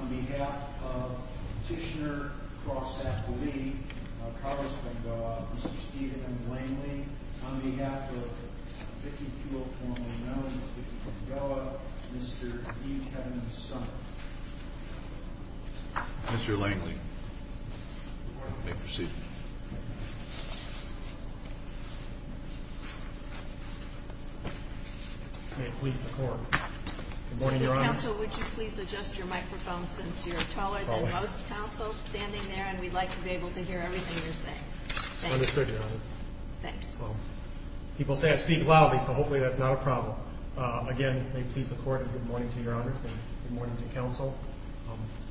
On behalf of Petitioner Cross Appleby, Carlos Bengoa, Mr. Steven Langley, on behalf of 50 Fuel, formerly known as 50 Fuel Bengoa, Mr. E. Kevin Sumner. Mr. Langley, may proceed. May it please the Court. Good morning, Your Honor. Mr. Counsel, would you please adjust your microphone since you're taller than most counsels standing there and we'd like to be able to hear everything you're saying. Understood, Your Honor. Thanks. People say I speak loudly, so hopefully that's not a problem. Again, may it please the Court, good morning to Your Honor and good morning to Counsel.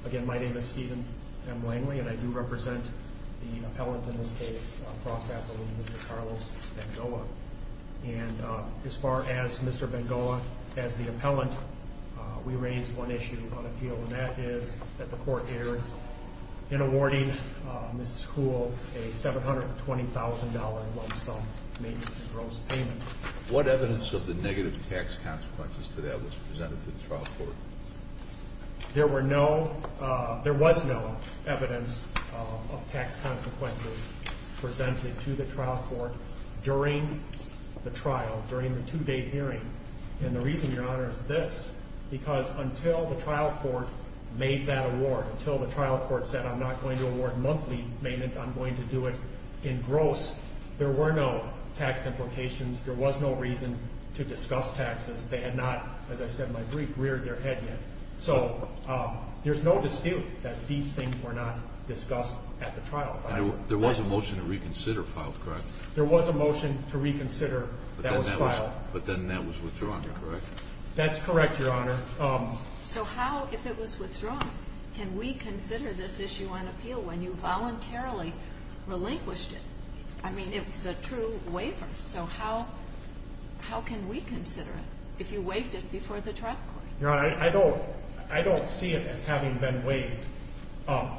Again, my name is Steven M. Langley and I do represent the appellant in this case, Cross Appleby, Mr. Carlos Bengoa. And as far as Mr. Bengoa as the appellant, we raised one issue on appeal and that is that the Court erred in awarding Mrs. Kuhl a $720,000 lump sum maintenance and gross payment. What evidence of the negative tax consequences to that was presented to the trial court? There was no evidence of tax consequences presented to the trial court during the trial, during the two-day hearing. And the reason, Your Honor, is this. Because until the trial court made that award, until the trial court said, I'm not going to award monthly maintenance, I'm going to do it in gross, there were no tax implications. There was no reason to discuss taxes. They had not, as I said in my brief, reared their head yet. So there's no dispute that these things were not discussed at the trial. There was a motion to reconsider filed, correct? There was a motion to reconsider that was filed. But then that was withdrawn, correct? That's correct, Your Honor. So how, if it was withdrawn, can we consider this issue on appeal when you voluntarily relinquished it? I mean, it was a true waiver. So how can we consider it if you waived it before the trial court? Your Honor, I don't see it as having been waived.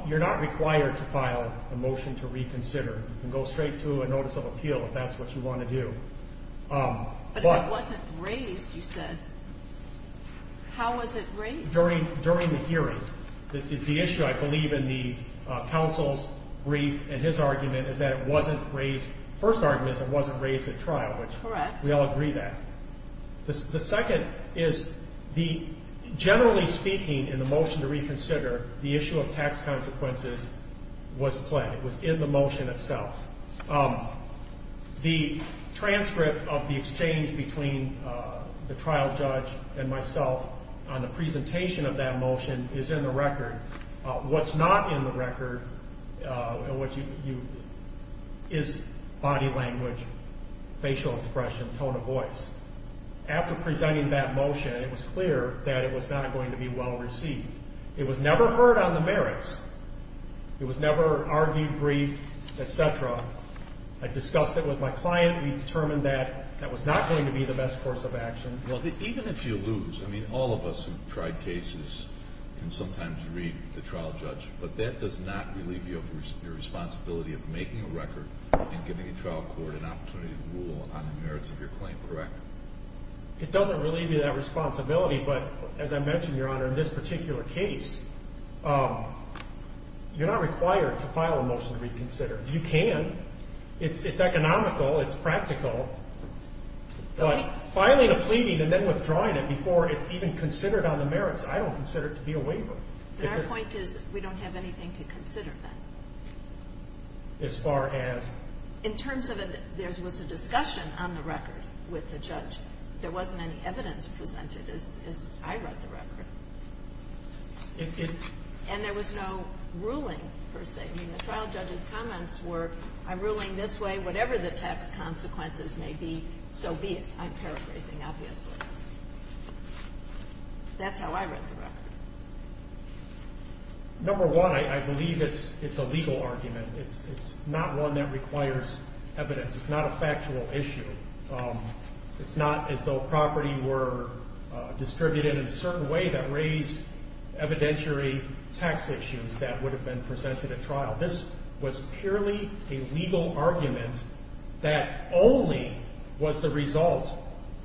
You're not required to file a motion to reconsider. You can go straight to a notice of appeal if that's what you want to do. But if it wasn't raised, you said, how was it raised? During the hearing, the issue, I believe, in the counsel's brief and his argument is that it wasn't raised. The first argument is it wasn't raised at trial. Correct. We all agree that. The second is, generally speaking, in the motion to reconsider, the issue of tax consequences was played. It was in the motion itself. The transcript of the exchange between the trial judge and myself on the presentation of that motion is in the record. What's not in the record is body language, facial expression, tone of voice. After presenting that motion, it was clear that it was not going to be well received. It was never heard on the merits. It was never argued, briefed, et cetera. I discussed it with my client. We determined that that was not going to be the best course of action. Well, even if you lose, I mean, all of us who've tried cases can sometimes read the trial judge, but that does not relieve you of your responsibility of making a record and giving a trial court an opportunity to rule on the merits of your claim, correct? It doesn't relieve you of that responsibility, but as I mentioned, Your Honor, in this particular case, you're not required to file a motion to reconsider. You can. It's economical. It's practical. But filing a pleading and then withdrawing it before it's even considered on the merits, I don't consider it to be a waiver. But our point is we don't have anything to consider then. As far as? In terms of there was a discussion on the record with the judge. There wasn't any evidence presented as I read the record. And there was no ruling, per se. I mean, the trial judge's comments were, I'm ruling this way. Whatever the tax consequences may be, so be it. I'm paraphrasing, obviously. That's how I read the record. Number one, I believe it's a legal argument. It's not one that requires evidence. It's not a factual issue. It's not as though property were distributed in a certain way that raised evidentiary tax issues that would have been presented at trial. This was purely a legal argument that only was the result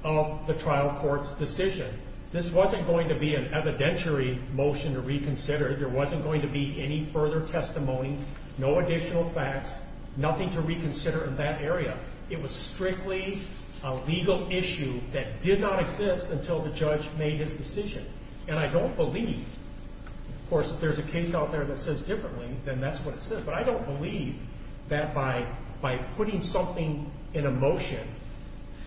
of the trial court's decision. This wasn't going to be an evidentiary motion to reconsider. There wasn't going to be any further testimony, no additional facts, nothing to reconsider in that area. It was strictly a legal issue that did not exist until the judge made his decision. And I don't believe, of course, if there's a case out there that says differently, then that's what it says. But I don't believe that by putting something in a motion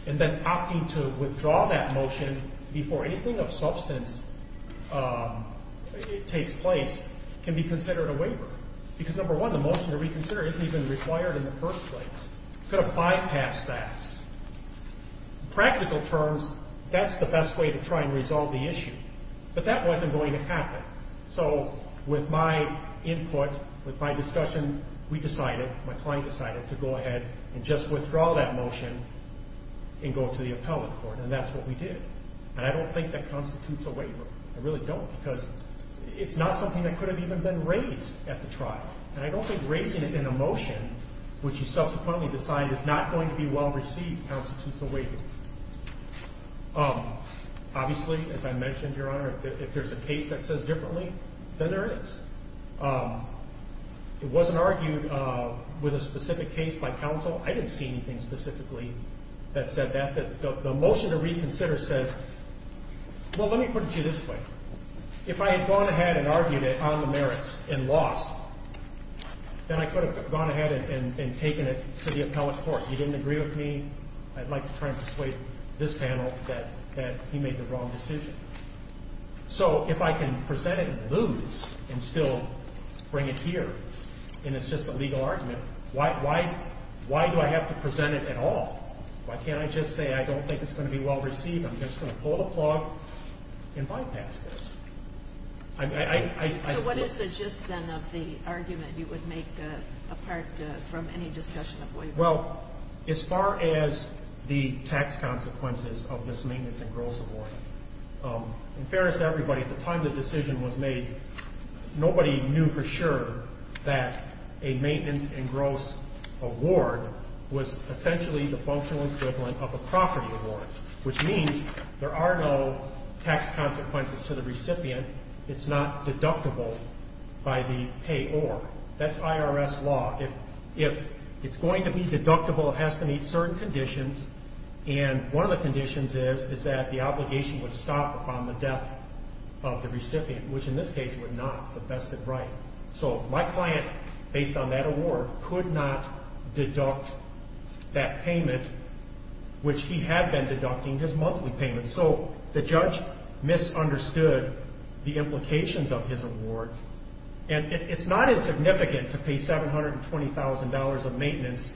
and then opting to withdraw that motion before anything of substance takes place can be considered a waiver. Because, number one, the motion to reconsider isn't even required in the first place. It could have bypassed that. In practical terms, that's the best way to try and resolve the issue. But that wasn't going to happen. So with my input, with my discussion, we decided, my client decided, to go ahead and just withdraw that motion and go to the appellate court. And that's what we did. And I don't think that constitutes a waiver. I really don't, because it's not something that could have even been raised at the trial. And I don't think raising it in a motion, which he subsequently decided is not going to be well received, constitutes a waiver. Obviously, as I mentioned, Your Honor, if there's a case that says differently, then there is. It wasn't argued with a specific case by counsel. I didn't see anything specifically that said that. The motion to reconsider says, well, let me put it to you this way. If I had gone ahead and argued it on the merits and lost, then I could have gone ahead and taken it to the appellate court. He didn't agree with me. I'd like to try and persuade this panel that he made the wrong decision. So if I can present it and lose and still bring it here, and it's just a legal argument, why do I have to present it at all? Why can't I just say I don't think it's going to be well received? I'm just going to pull the plug and bypass this. So what is the gist, then, of the argument you would make apart from any discussion of waiver? Well, as far as the tax consequences of this maintenance and gross award, in fairness to everybody, at the time the decision was made, nobody knew for sure that a maintenance and gross award was essentially the functional equivalent of a property award, which means there are no tax consequences to the recipient. It's not deductible by the payor. That's IRS law. If it's going to be deductible, it has to meet certain conditions, and one of the conditions is that the obligation would stop upon the death of the recipient, which in this case would not. It's a vested right. So my client, based on that award, could not deduct that payment, which he had been deducting his monthly payment. So the judge misunderstood the implications of his award, and it's not insignificant to pay $720,000 of maintenance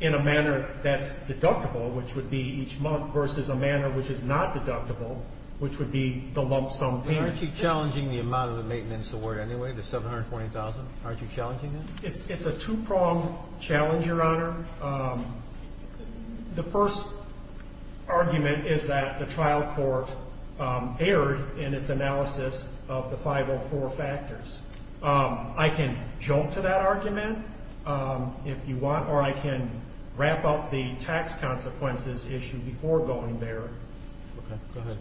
in a manner that's deductible, which would be each month, versus a manner which is not deductible, which would be the lump sum payment. Aren't you challenging the amount of the maintenance award anyway, the $720,000? Aren't you challenging that? It's a two-pronged challenge, Your Honor. The first argument is that the trial court erred in its analysis of the 504 factors. I can jump to that argument if you want, or I can wrap up the tax consequences issue before going there. Okay, go ahead.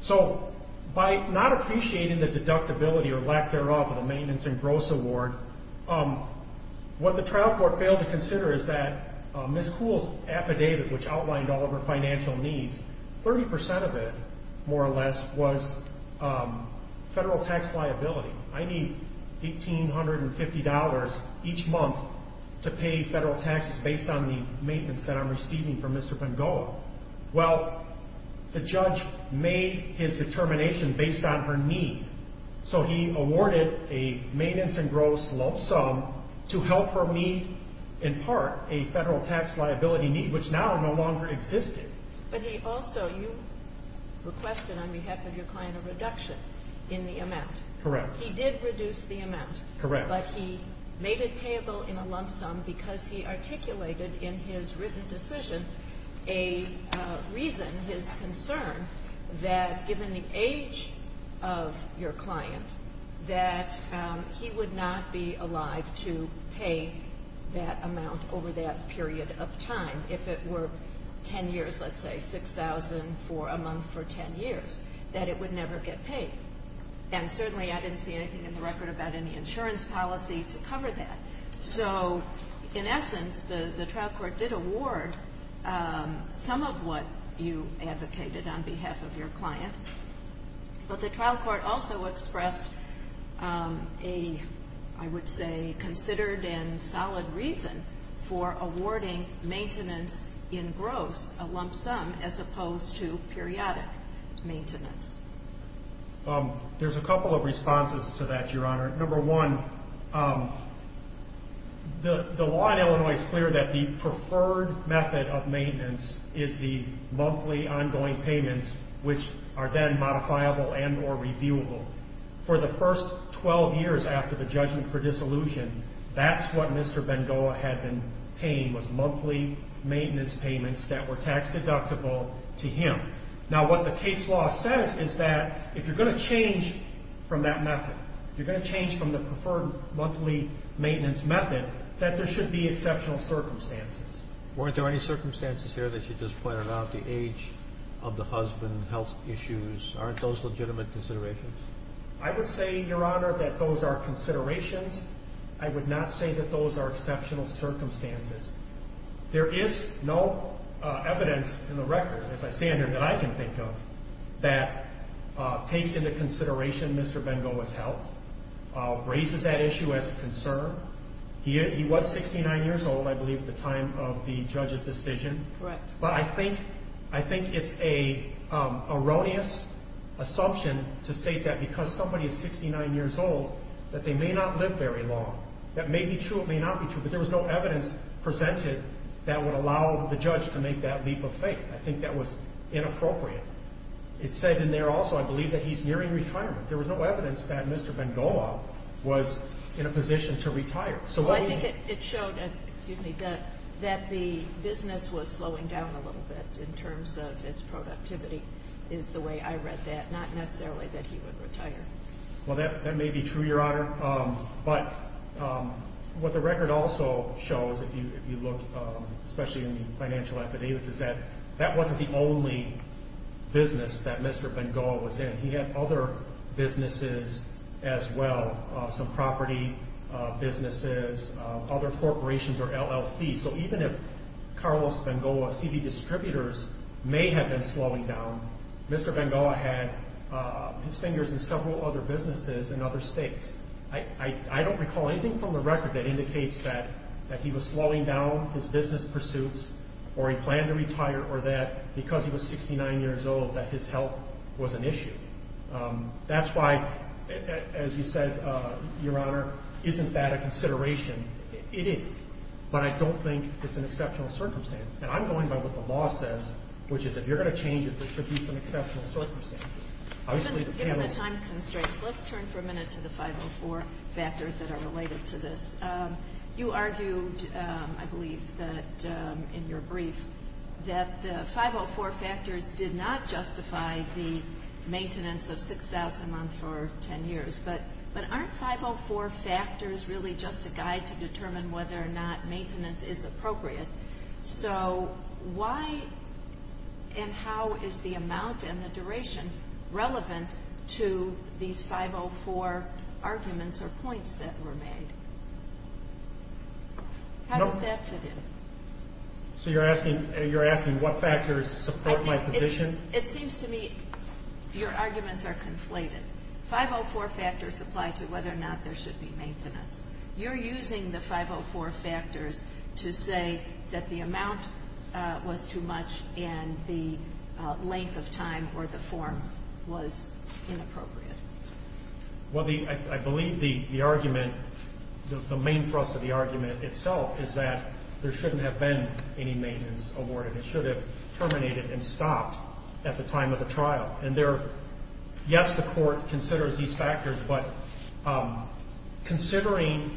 So by not appreciating the deductibility or lack thereof of the maintenance and gross award, what the trial court failed to consider is that Ms. Kuhl's affidavit, which outlined all of her financial needs, 30% of it, more or less, was federal tax liability. I need $1,850 each month to pay federal taxes based on the maintenance that I'm receiving from Mr. Van Gogh. Well, the judge made his determination based on her need, so he awarded a maintenance and gross lump sum to help her meet, in part, a federal tax liability need, which now no longer existed. But he also, you requested on behalf of your client a reduction in the amount. Correct. He did reduce the amount. Correct. But he made it payable in a lump sum because he articulated in his written decision a reason, his concern, that given the age of your client, that he would not be alive to pay that amount over that period of time. If it were 10 years, let's say, $6,000 a month for 10 years, that it would never get paid. And certainly I didn't see anything in the record about any insurance policy to cover that. So, in essence, the trial court did award some of what you advocated on behalf of your client, but the trial court also expressed a, I would say, considered and solid reason for awarding maintenance in gross, a lump sum, as opposed to periodic maintenance. There's a couple of responses to that, Your Honor. Number one, the law in Illinois is clear that the preferred method of maintenance is the monthly ongoing payments, which are then modifiable and or reviewable. For the first 12 years after the judgment for dissolution, that's what Mr. Bengoa had been paying was monthly maintenance payments that were tax deductible to him. Now, what the case law says is that if you're going to change from that method, you're going to change from the preferred monthly maintenance method, that there should be exceptional circumstances. Weren't there any circumstances here that you just pointed out, the age of the husband, health issues? Aren't those legitimate considerations? I would say, Your Honor, that those are considerations. I would not say that those are exceptional circumstances. There is no evidence in the record, as I stand here, that I can think of that takes into consideration Mr. Bengoa's health, raises that issue as a concern. He was 69 years old, I believe, at the time of the judge's decision. Correct. But I think it's an erroneous assumption to state that because somebody is 69 years old, that they may not live very long. That may be true, it may not be true, but there was no evidence presented that would allow the judge to make that leap of faith. I think that was inappropriate. It said in there also, I believe, that he's nearing retirement. There was no evidence that Mr. Bengoa was in a position to retire. I think it showed that the business was slowing down a little bit in terms of its productivity is the way I read that, not necessarily that he would retire. Well, that may be true, Your Honor. But what the record also shows, if you look especially in the financial affidavits, is that that wasn't the only business that Mr. Bengoa was in. He had other businesses as well, some property businesses, other corporations or LLCs. So even if Carlos Bengoa's CD distributors may have been slowing down, Mr. Bengoa had his fingers in several other businesses in other states. I don't recall anything from the record that indicates that he was slowing down his business pursuits or he planned to retire or that because he was 69 years old that his health was an issue. That's why, as you said, Your Honor, isn't that a consideration? It is. But I don't think it's an exceptional circumstance. And I'm going by what the law says, which is if you're going to change it, there should be some exceptional circumstances. Given the time constraints, let's turn for a minute to the 504 factors that are related to this. You argued, I believe, in your brief that the 504 factors did not justify the maintenance of 6,000 a month for 10 years. But aren't 504 factors really just a guide to determine whether or not maintenance is appropriate? So why and how is the amount and the duration relevant to these 504 arguments or points that were made? How does that fit in? So you're asking what factors support my position? It seems to me your arguments are conflated. 504 factors apply to whether or not there should be maintenance. You're using the 504 factors to say that the amount was too much and the length of time or the form was inappropriate. Well, I believe the argument, the main thrust of the argument itself is that there shouldn't have been any maintenance awarded. It should have terminated and stopped at the time of the trial. Yes, the court considers these factors, but considering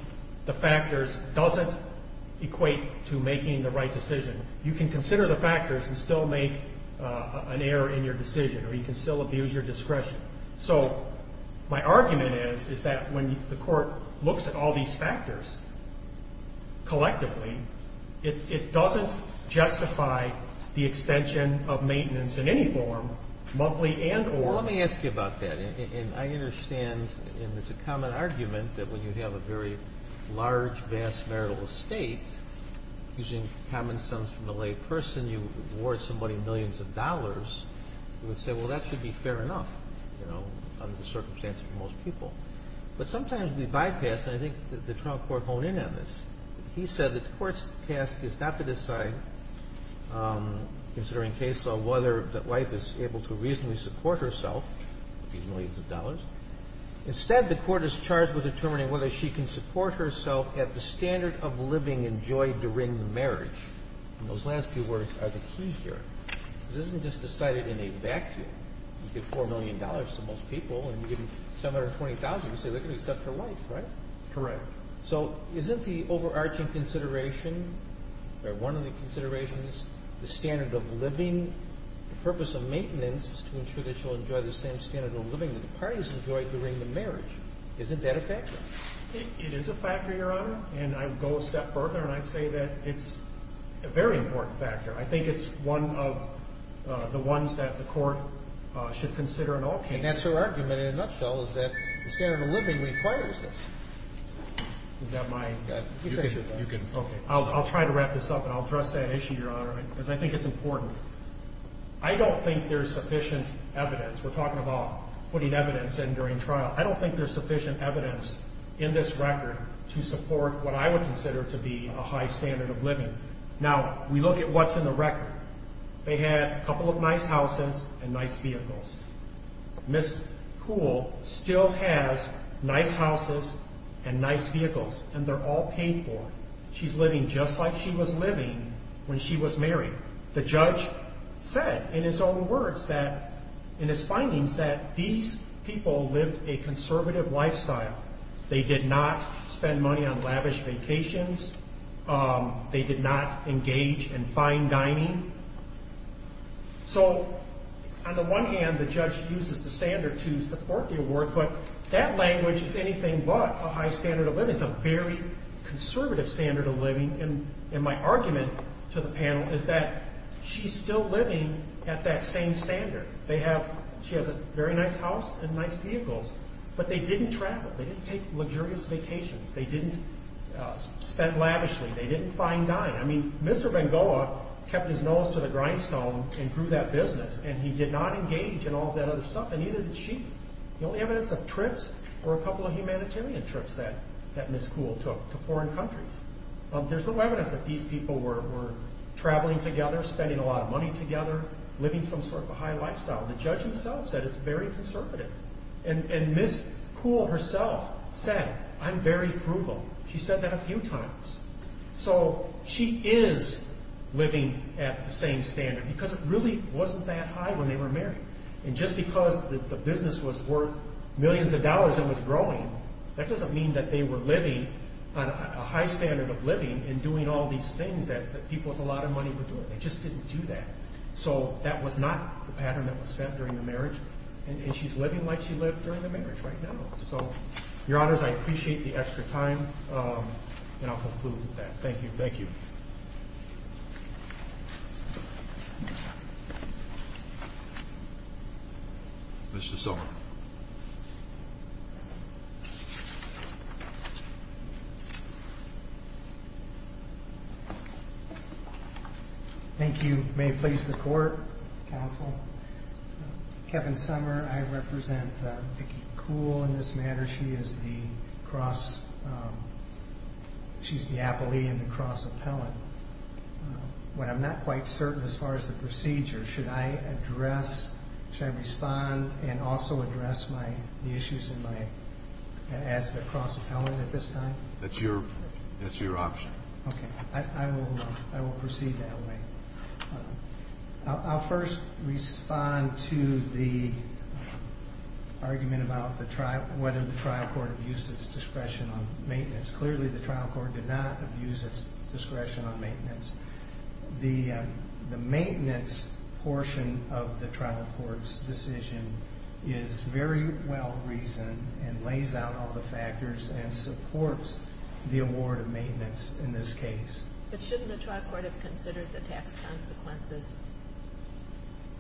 the factors doesn't equate to making the right decision. You can consider the factors and still make an error in your decision, or you can still abuse your discretion. So my argument is, is that when the court looks at all these factors collectively, it doesn't justify the extension of maintenance in any form, monthly and or. Well, let me ask you about that. And I understand, and it's a common argument, that when you have a very large, vast marital estate, using common sense from a lay person, you award somebody millions of dollars, you would say, well, that should be fair enough, you know, under the circumstance for most people. But sometimes we bypass, and I think the trial court honed in on this. He said the court's task is not to decide, considering case law, whether the wife is able to reasonably support herself with these millions of dollars. Instead, the court is charged with determining whether she can support herself at the standard of living and joy during the marriage. And those last few words are the key here. This isn't just decided in a vacuum. You give $4 million to most people, and you give $720,000, you say they're going to accept her wife, right? Correct. So isn't the overarching consideration, or one of the considerations, the standard of living, the purpose of maintenance to ensure that she'll enjoy the same standard of living that the parties enjoy during the marriage, isn't that a factor? It is a factor, Your Honor. And I would go a step further, and I'd say that it's a very important factor. I think it's one of the ones that the court should consider in all cases. I mean, that's her argument in a nutshell, is that the standard of living requires this. Is that my position? Okay. I'll try to wrap this up, and I'll address that issue, Your Honor, because I think it's important. I don't think there's sufficient evidence. We're talking about putting evidence in during trial. I don't think there's sufficient evidence in this record to support what I would consider to be a high standard of living. Now, we look at what's in the record. They had a couple of nice houses and nice vehicles. Ms. Kuhl still has nice houses and nice vehicles, and they're all paid for. She's living just like she was living when she was married. The judge said in his own words that, in his findings, that these people lived a conservative lifestyle. They did not spend money on lavish vacations. They did not engage in fine dining. So, on the one hand, the judge uses the standard to support the award, but that language is anything but a high standard of living. It's a very conservative standard of living, and my argument to the panel is that she's still living at that same standard. She has a very nice house and nice vehicles, but they didn't travel. They didn't take luxurious vacations. They didn't spend lavishly. They didn't fine dine. I mean, Mr. Bengoa kept his nose to the grindstone and grew that business, and he did not engage in all that other stuff, and neither did she. The only evidence of trips were a couple of humanitarian trips that Ms. Kuhl took to foreign countries. There's no evidence that these people were traveling together, spending a lot of money together, living some sort of a high lifestyle. The judge himself said it's very conservative, and Ms. Kuhl herself said, I'm very frugal. She said that a few times. So she is living at the same standard because it really wasn't that high when they were married, and just because the business was worth millions of dollars and was growing, that doesn't mean that they were living on a high standard of living and doing all these things that people with a lot of money would do. They just didn't do that. So that was not the pattern that was set during the marriage, and she's living like she lived during the marriage right now. So, Your Honors, I appreciate the extra time, and I'll conclude with that. Thank you. Thank you. Thank you. Mr. Sommer. Thank you. May it please the Court, Counsel. Kevin Sommer, I represent Vicki Kuhl in this matter. She is the appellee and the cross-appellant. When I'm not quite certain as far as the procedure, should I address, should I respond and also address the issues as the cross-appellant at this time? That's your option. Okay. I will proceed that way. I'll first respond to the argument about whether the trial court abused its discretion on maintenance. Clearly, the trial court did not abuse its discretion on maintenance. The maintenance portion of the trial court's decision is very well reasoned and lays out all the factors and supports the award of maintenance in this case. But shouldn't the trial court have considered the tax consequences?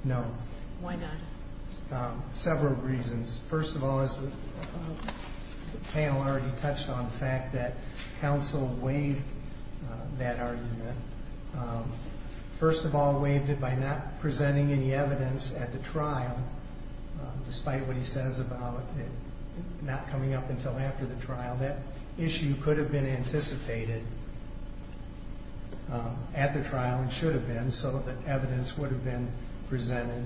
No. Why not? Several reasons. First of all, as the panel already touched on, the fact that counsel waived that argument. First of all, waived it by not presenting any evidence at the trial, that issue could have been anticipated at the trial and should have been, so that evidence would have been presented.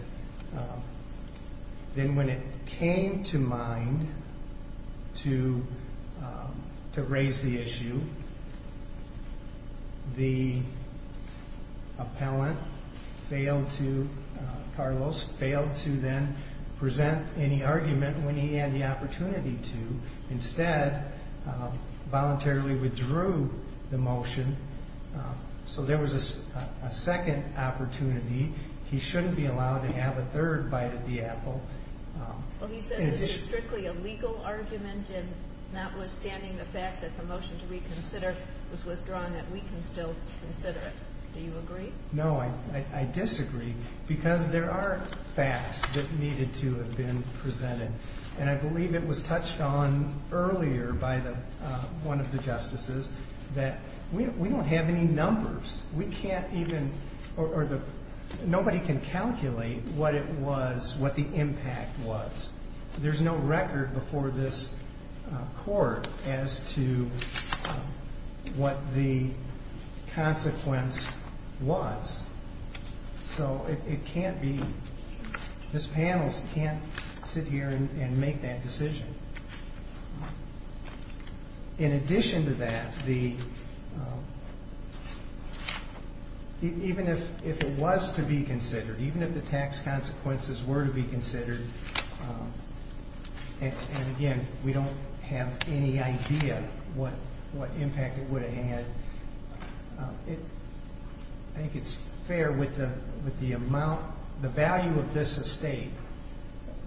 Then when it came to mind to raise the issue, the appellant failed to, Carlos, failed to then present any argument when he had the opportunity to. Instead, voluntarily withdrew the motion, so there was a second opportunity. He shouldn't be allowed to have a third bite at the apple. Well, he says this is strictly a legal argument, and notwithstanding the fact that the motion to reconsider was withdrawn, that we can still consider it. Do you agree? No, I disagree, because there are facts that needed to have been presented. And I believe it was touched on earlier by one of the justices that we don't have any numbers. We can't even, or nobody can calculate what it was, what the impact was. There's no record before this court as to what the consequence was. So it can't be, this panel can't sit here and make that decision. In addition to that, even if it was to be considered, even if the tax consequences were to be considered, and, again, we don't have any idea what impact it would have had, I think it's fair with the amount, the value of this estate,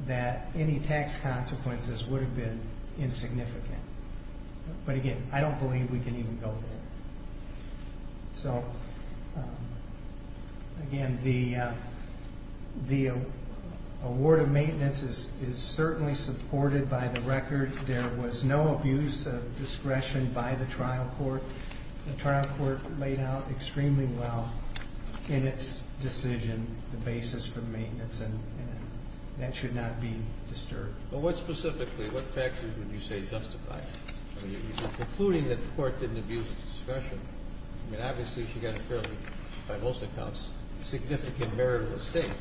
that any tax consequences would have been insignificant. But, again, I don't believe we can even go there. So, again, the award of maintenance is certainly supported by the record. There was no abuse of discretion by the trial court. The trial court laid out extremely well in its decision the basis for the maintenance, and that should not be disturbed. But what specifically, what factors would you say justify it? I mean, you're concluding that the court didn't abuse of discretion. I mean, obviously, she got a fairly, by most accounts, significant marital estate.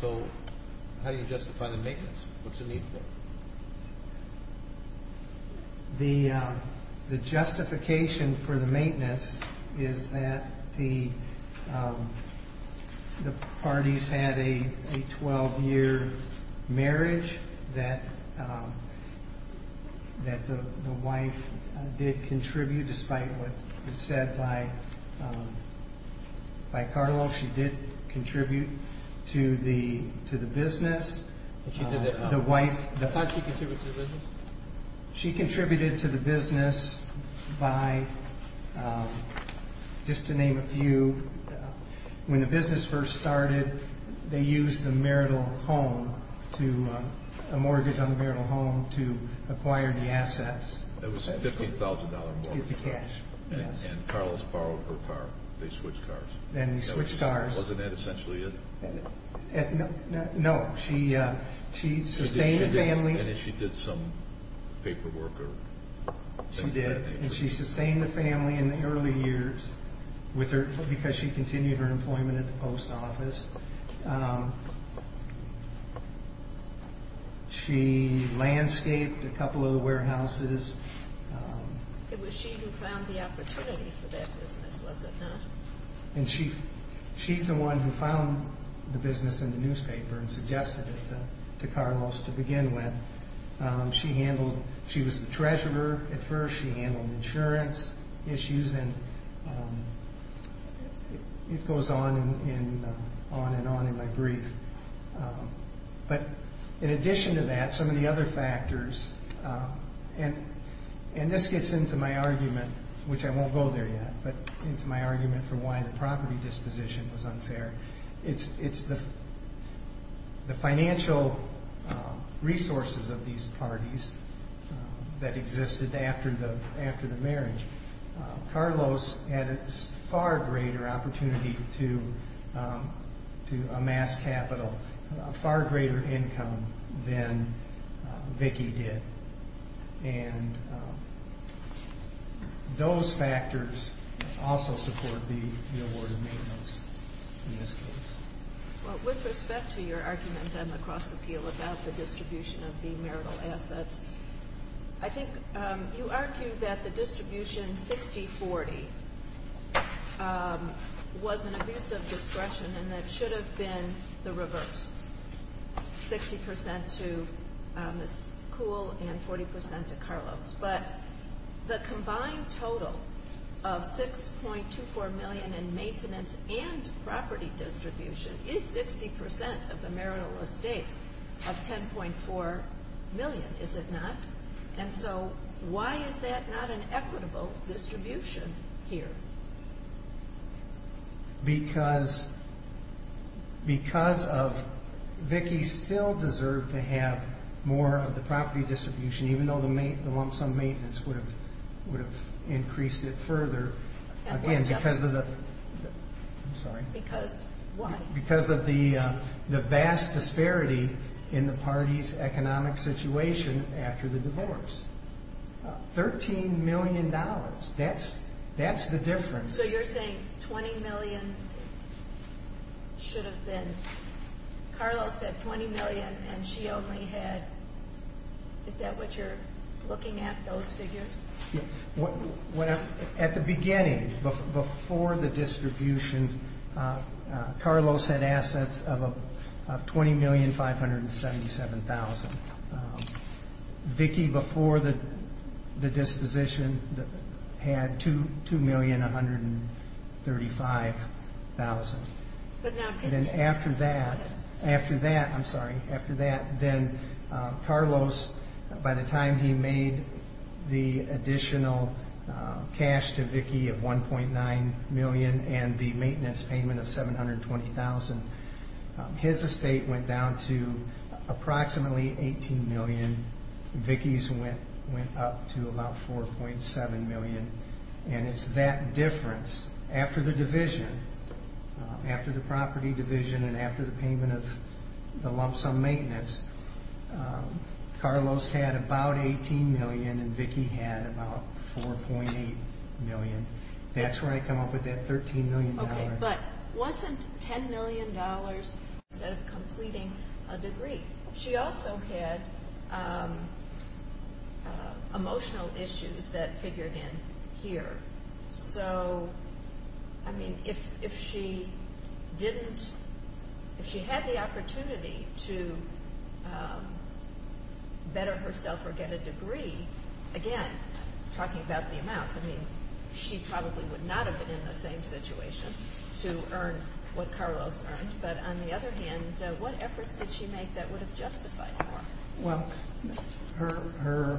So how do you justify the maintenance? What's the need for it? The justification for the maintenance is that the parties had a 12-year marriage, that the wife did contribute, despite what was said by Carlos. She did contribute to the business. How did she contribute to the business? She contributed to the business by, just to name a few, when the business first started, they used the marital home to, a mortgage on the marital home to acquire the assets. It was a $15,000 mortgage. To get the cash. And Carlos borrowed her car. They switched cars. And they switched cars. Wasn't that essentially it? No. She sustained the family. And she did some paperwork. She did, and she sustained the family in the early years because she continued her employment at the post office. She landscaped a couple of the warehouses. It was she who found the opportunity for that business, was it not? And she's the one who found the business in the newspaper and suggested it to Carlos to begin with. She was the treasurer at first. She handled insurance issues. And it goes on and on in my brief. But in addition to that, some of the other factors, and this gets into my argument, which I won't go there yet, but into my argument for why the property disposition was unfair. It's the financial resources of these parties that existed after the marriage. Carlos had a far greater opportunity to amass capital, a far greater income than Vicki did. And those factors also support the award of maintenance in this case. Well, with respect to your argument on the cross-appeal about the distribution of the marital assets, I think you argue that the distribution 60-40 was an abuse of discretion and that it should have been the reverse, 60% to Ms. Kuhl and 40% to Carlos. But the combined total of $6.24 million in maintenance and property distribution is 60% of the marital estate of $10.4 million, is it not? And so why is that not an equitable distribution here? Because of Vicki still deserved to have more of the property distribution, even though the lumps on maintenance would have increased it further. Again, because of the vast disparity in the party's economic situation after the divorce. $13 million, that's the difference. So you're saying $20 million should have been, Carlos had $20 million and she only had, is that what you're looking at, those figures? Yes. At the beginning, before the distribution, Carlos had assets of $20,577,000. Vicki, before the disposition, had $2,135,000. Then after that, Carlos, by the time he made the additional cash to Vicki of $1.9 million and the maintenance payment of $720,000, his estate went down to approximately $18 million. Vicki's went up to about $4.7 million. And it's that difference. After the division, after the property division and after the payment of the lumps on maintenance, Carlos had about $18 million and Vicki had about $4.8 million. That's where I come up with that $13 million. Okay, but wasn't $10 million instead of completing a degree? She also had emotional issues that figured in here. So, I mean, if she didn't, if she had the opportunity to better herself or get a degree, again, talking about the amounts, I mean, she probably would not have been in the same situation to earn what Carlos earned. But on the other hand, what efforts did she make that would have justified more? Well, her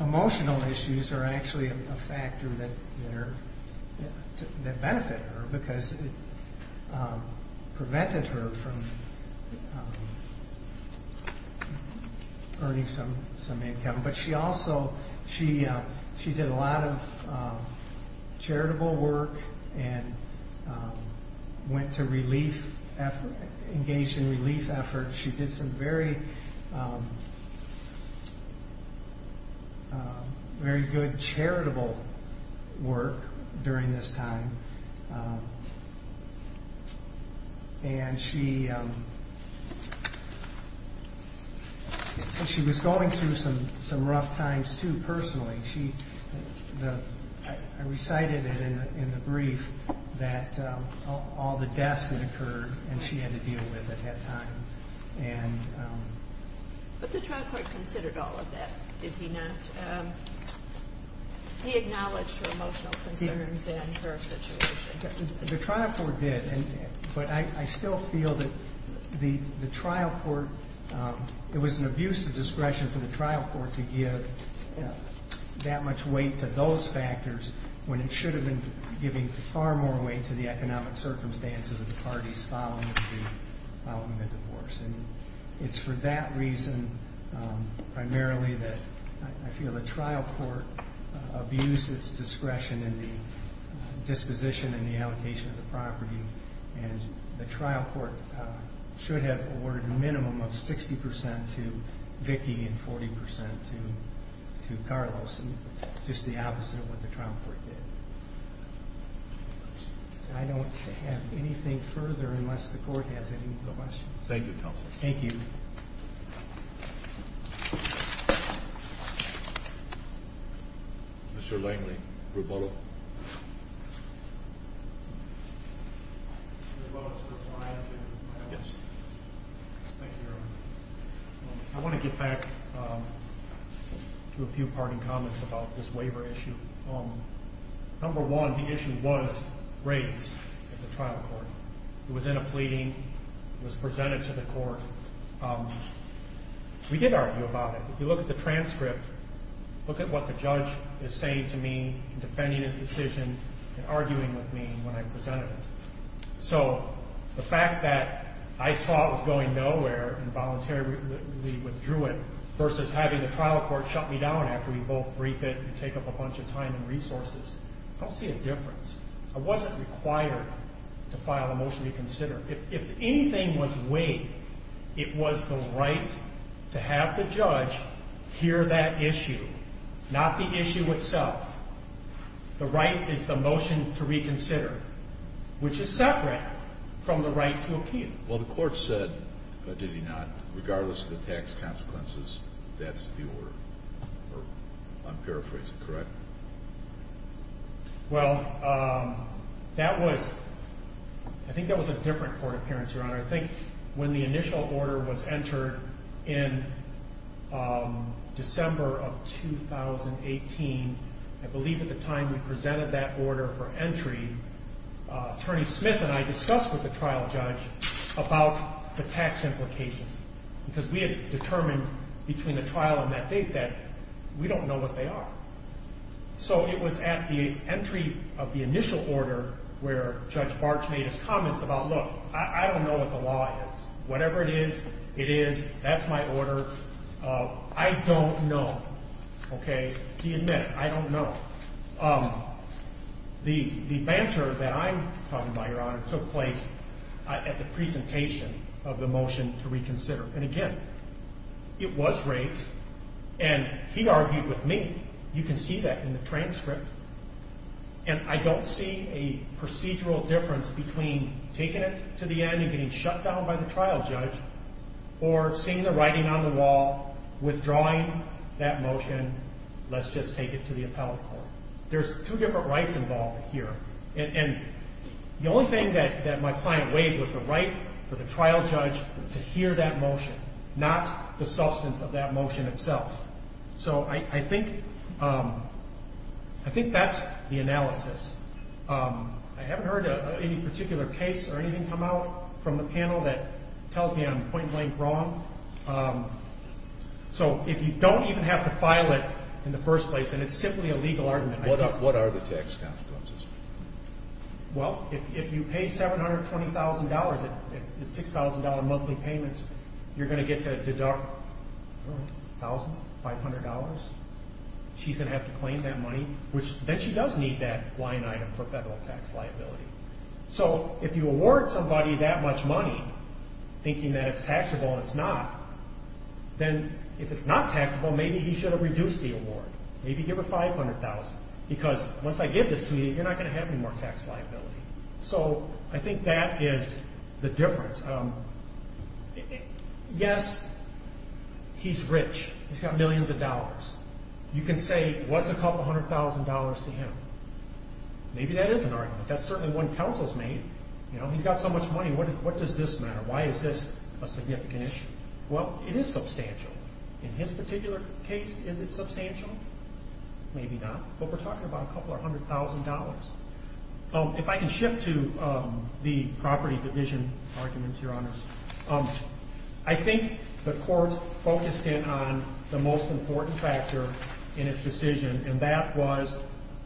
emotional issues are actually a factor that benefit her because it prevented her from earning some income. But she also, she did a lot of charitable work and went to relief, engaged in relief efforts. She did some very good charitable work during this time. And she was going through some rough times, too, personally. I recited it in the brief that all the deaths that occurred and she had to deal with at that time. But the trial court considered all of that, did he not? He acknowledged her emotional concerns and her situation. The trial court did, but I still feel that the trial court, it was an abuse of discretion for the trial court to give that much weight to those factors when it should have been giving far more weight to the economic circumstances of the parties following the divorce. And it's for that reason primarily that I feel the trial court abused its discretion in the disposition and the allocation of the property. And the trial court should have awarded a minimum of 60% to Vicky and 40% to Carlos, just the opposite of what the trial court did. I don't have anything further unless the court has any questions. Thank you, counsel. Thank you. Mr. Langley, Rubolo. I want to get back to a few parting comments about this waiver issue. Number one, the issue was raised at the trial court. It was in a pleading. It was presented to the court. We did argue about it. If you look at the transcript, look at what the judge is saying to me in defending his decision and arguing with me when I presented it. So the fact that I saw it was going nowhere and voluntarily withdrew it after we both briefed it and take up a bunch of time and resources, I don't see a difference. I wasn't required to file a motion to reconsider. If anything was waived, it was the right to have the judge hear that issue, not the issue itself. The right is the motion to reconsider, which is separate from the right to appeal. Well, the court said, did he not, regardless of the tax consequences, that's the order. I'm paraphrasing, correct? Well, I think that was a different court appearance, Your Honor. I think when the initial order was entered in December of 2018, I believe at the time we presented that order for entry, Attorney Smith and I discussed with the trial judge about the tax implications because we had determined between the trial and that date that we don't know what they are. So it was at the entry of the initial order where Judge Barch made his comments about, look, I don't know what the law is. Whatever it is, it is. That's my order. I don't know. Okay? The banter that I'm talking about, Your Honor, took place at the presentation of the motion to reconsider. And, again, it was raised, and he argued with me. You can see that in the transcript. And I don't see a procedural difference between taking it to the end and getting shut down by the trial judge or seeing the writing on the wall withdrawing that motion, let's just take it to the appellate court. There's two different rights involved here. And the only thing that my client waived was the right for the trial judge to hear that motion, not the substance of that motion itself. So I think that's the analysis. I haven't heard any particular case or anything come out from the panel that tells me I'm point blank wrong. So if you don't even have to file it in the first place, then it's simply a legal argument. What are the tax consequences? Well, if you pay $720,000 in $6,000 monthly payments, you're going to get to deduct $1,000, $500. She's going to have to claim that money. Then she does need that line item for federal tax liability. So if you award somebody that much money, thinking that it's taxable and it's not, then if it's not taxable, maybe he should have reduced the award. Maybe give her $500,000. Because once I give this to you, you're not going to have any more tax liability. So I think that is the difference. Yes, he's rich. He's got millions of dollars. You can say, what's a couple hundred thousand dollars to him? Maybe that is an argument. That's certainly one counsel's made. He's got so much money. What does this matter? Why is this a significant issue? Well, it is substantial. In his particular case, is it substantial? Maybe not. But we're talking about a couple hundred thousand dollars. If I can shift to the property division arguments, Your Honors, I think the court focused in on the most important factor in its decision, and that was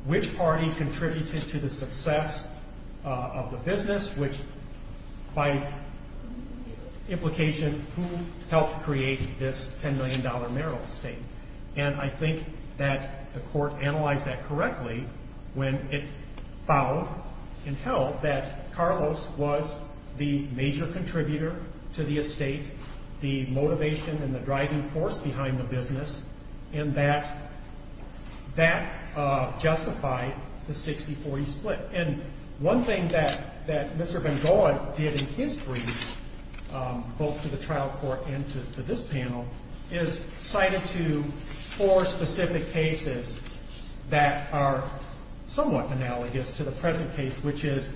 which party contributed to the success of the business, which by implication, who helped create this $10 million marital estate. And I think that the court analyzed that correctly when it found and held that Carlos was the major contributor to the estate, the motivation and the driving force behind the business, and that justified the 60-40 split. And one thing that Mr. Van Gogh did in his brief, both to the trial court and to this panel, is cited to four specific cases that are somewhat analogous to the present case, which is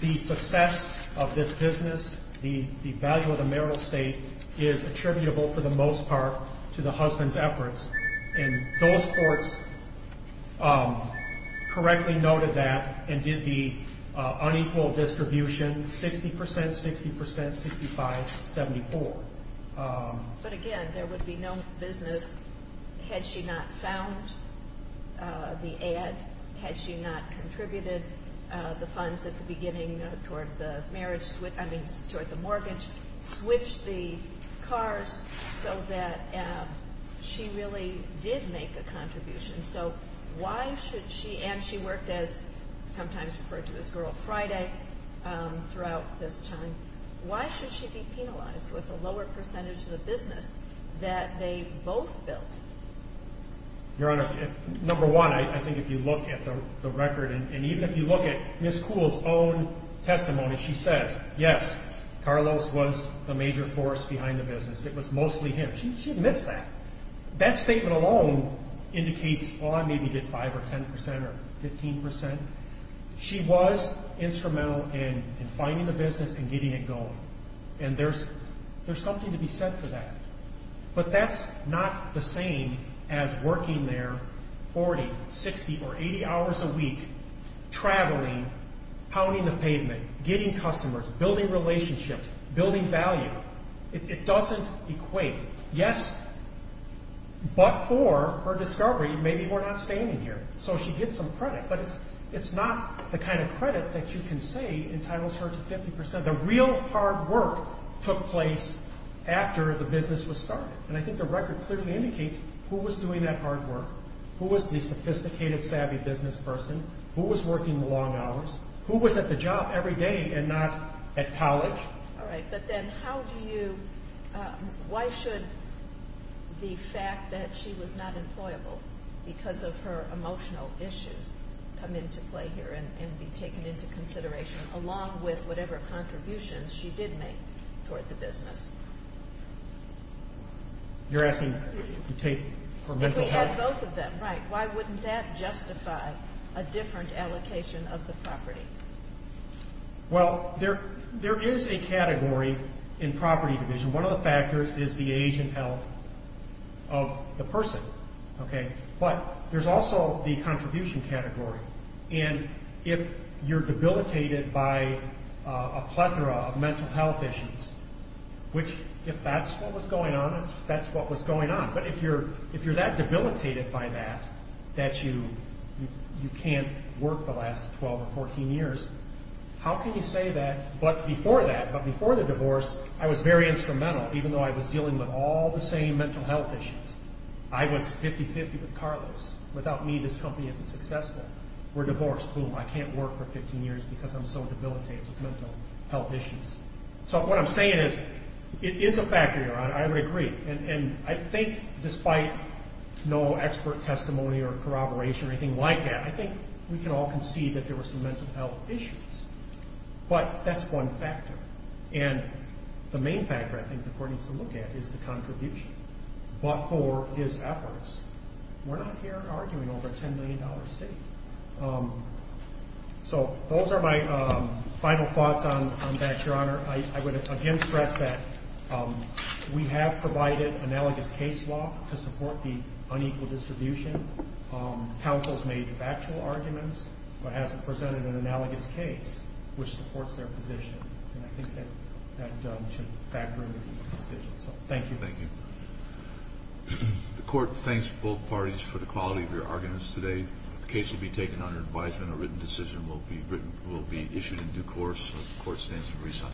the success of this business, the value of the marital estate, is attributable for the most part to the husband's efforts. And those courts correctly noted that and did the unequal distribution, 60%, 60%, 65, 74. But again, there would be no business had she not found the ad, had she not contributed the funds at the beginning toward the mortgage, switched the cars so that she really did make a contribution. So why should she, and she worked as sometimes referred to as Girl Friday throughout this time, why should she be penalized with a lower percentage of the business that they both built? Your Honor, number one, I think if you look at the record, and even if you look at Ms. Kuhl's own testimony, she says, yes, Carlos was the major force behind the business. It was mostly him. She admits that. That statement alone indicates, well, I maybe did 5% or 10% or 15%. She was instrumental in finding the business and getting it going, and there's something to be said for that. But that's not the same as working there 40, 60, or 80 hours a week, traveling, pounding the pavement, getting customers, building relationships, building value. It doesn't equate. Yes, but for her discovery, maybe we're not standing here. So she gets some credit, but it's not the kind of credit that you can say entitles her to 50%. The real hard work took place after the business was started, and I think the record clearly indicates who was doing that hard work, who was the sophisticated, savvy business person, who was working long hours, who was at the job every day and not at college. All right, but then how do you ñ why should the fact that she was not employable because of her emotional issues come into play here and be taken into consideration, along with whatever contributions she did make toward the business? You're asking if you take her mental health? If we had both of them, right, why wouldn't that justify a different allocation of the property? Well, there is a category in property division. One of the factors is the age and health of the person, okay? But there's also the contribution category, and if you're debilitated by a plethora of mental health issues, which if that's what was going on, that's what was going on. But if you're that debilitated by that, that you can't work the last 12 or 14 years, how can you say that, but before that, but before the divorce, I was very instrumental, even though I was dealing with all the same mental health issues. I was 50-50 with Carlos. Without me, this company isn't successful. We're divorced. Boom. I can't work for 15 years because I'm so debilitated with mental health issues. So what I'm saying is it is a factor. I would agree. And I think despite no expert testimony or corroboration or anything like that, I think we can all concede that there were some mental health issues, but that's one factor. And the main factor I think the court needs to look at is the contribution. But for his efforts, we're not here arguing over a $10 million statement. So those are my final thoughts on that, Your Honor. I would again stress that we have provided analogous case law to support the unequal distribution. Counsel's made factual arguments, but hasn't presented an analogous case which supports their position. And I think that that should factor into the decision. So thank you. Thank you. The court thanks both parties for the quality of your arguments today. The case will be taken under advisement. A written decision will be issued in due course. The court stands to resign.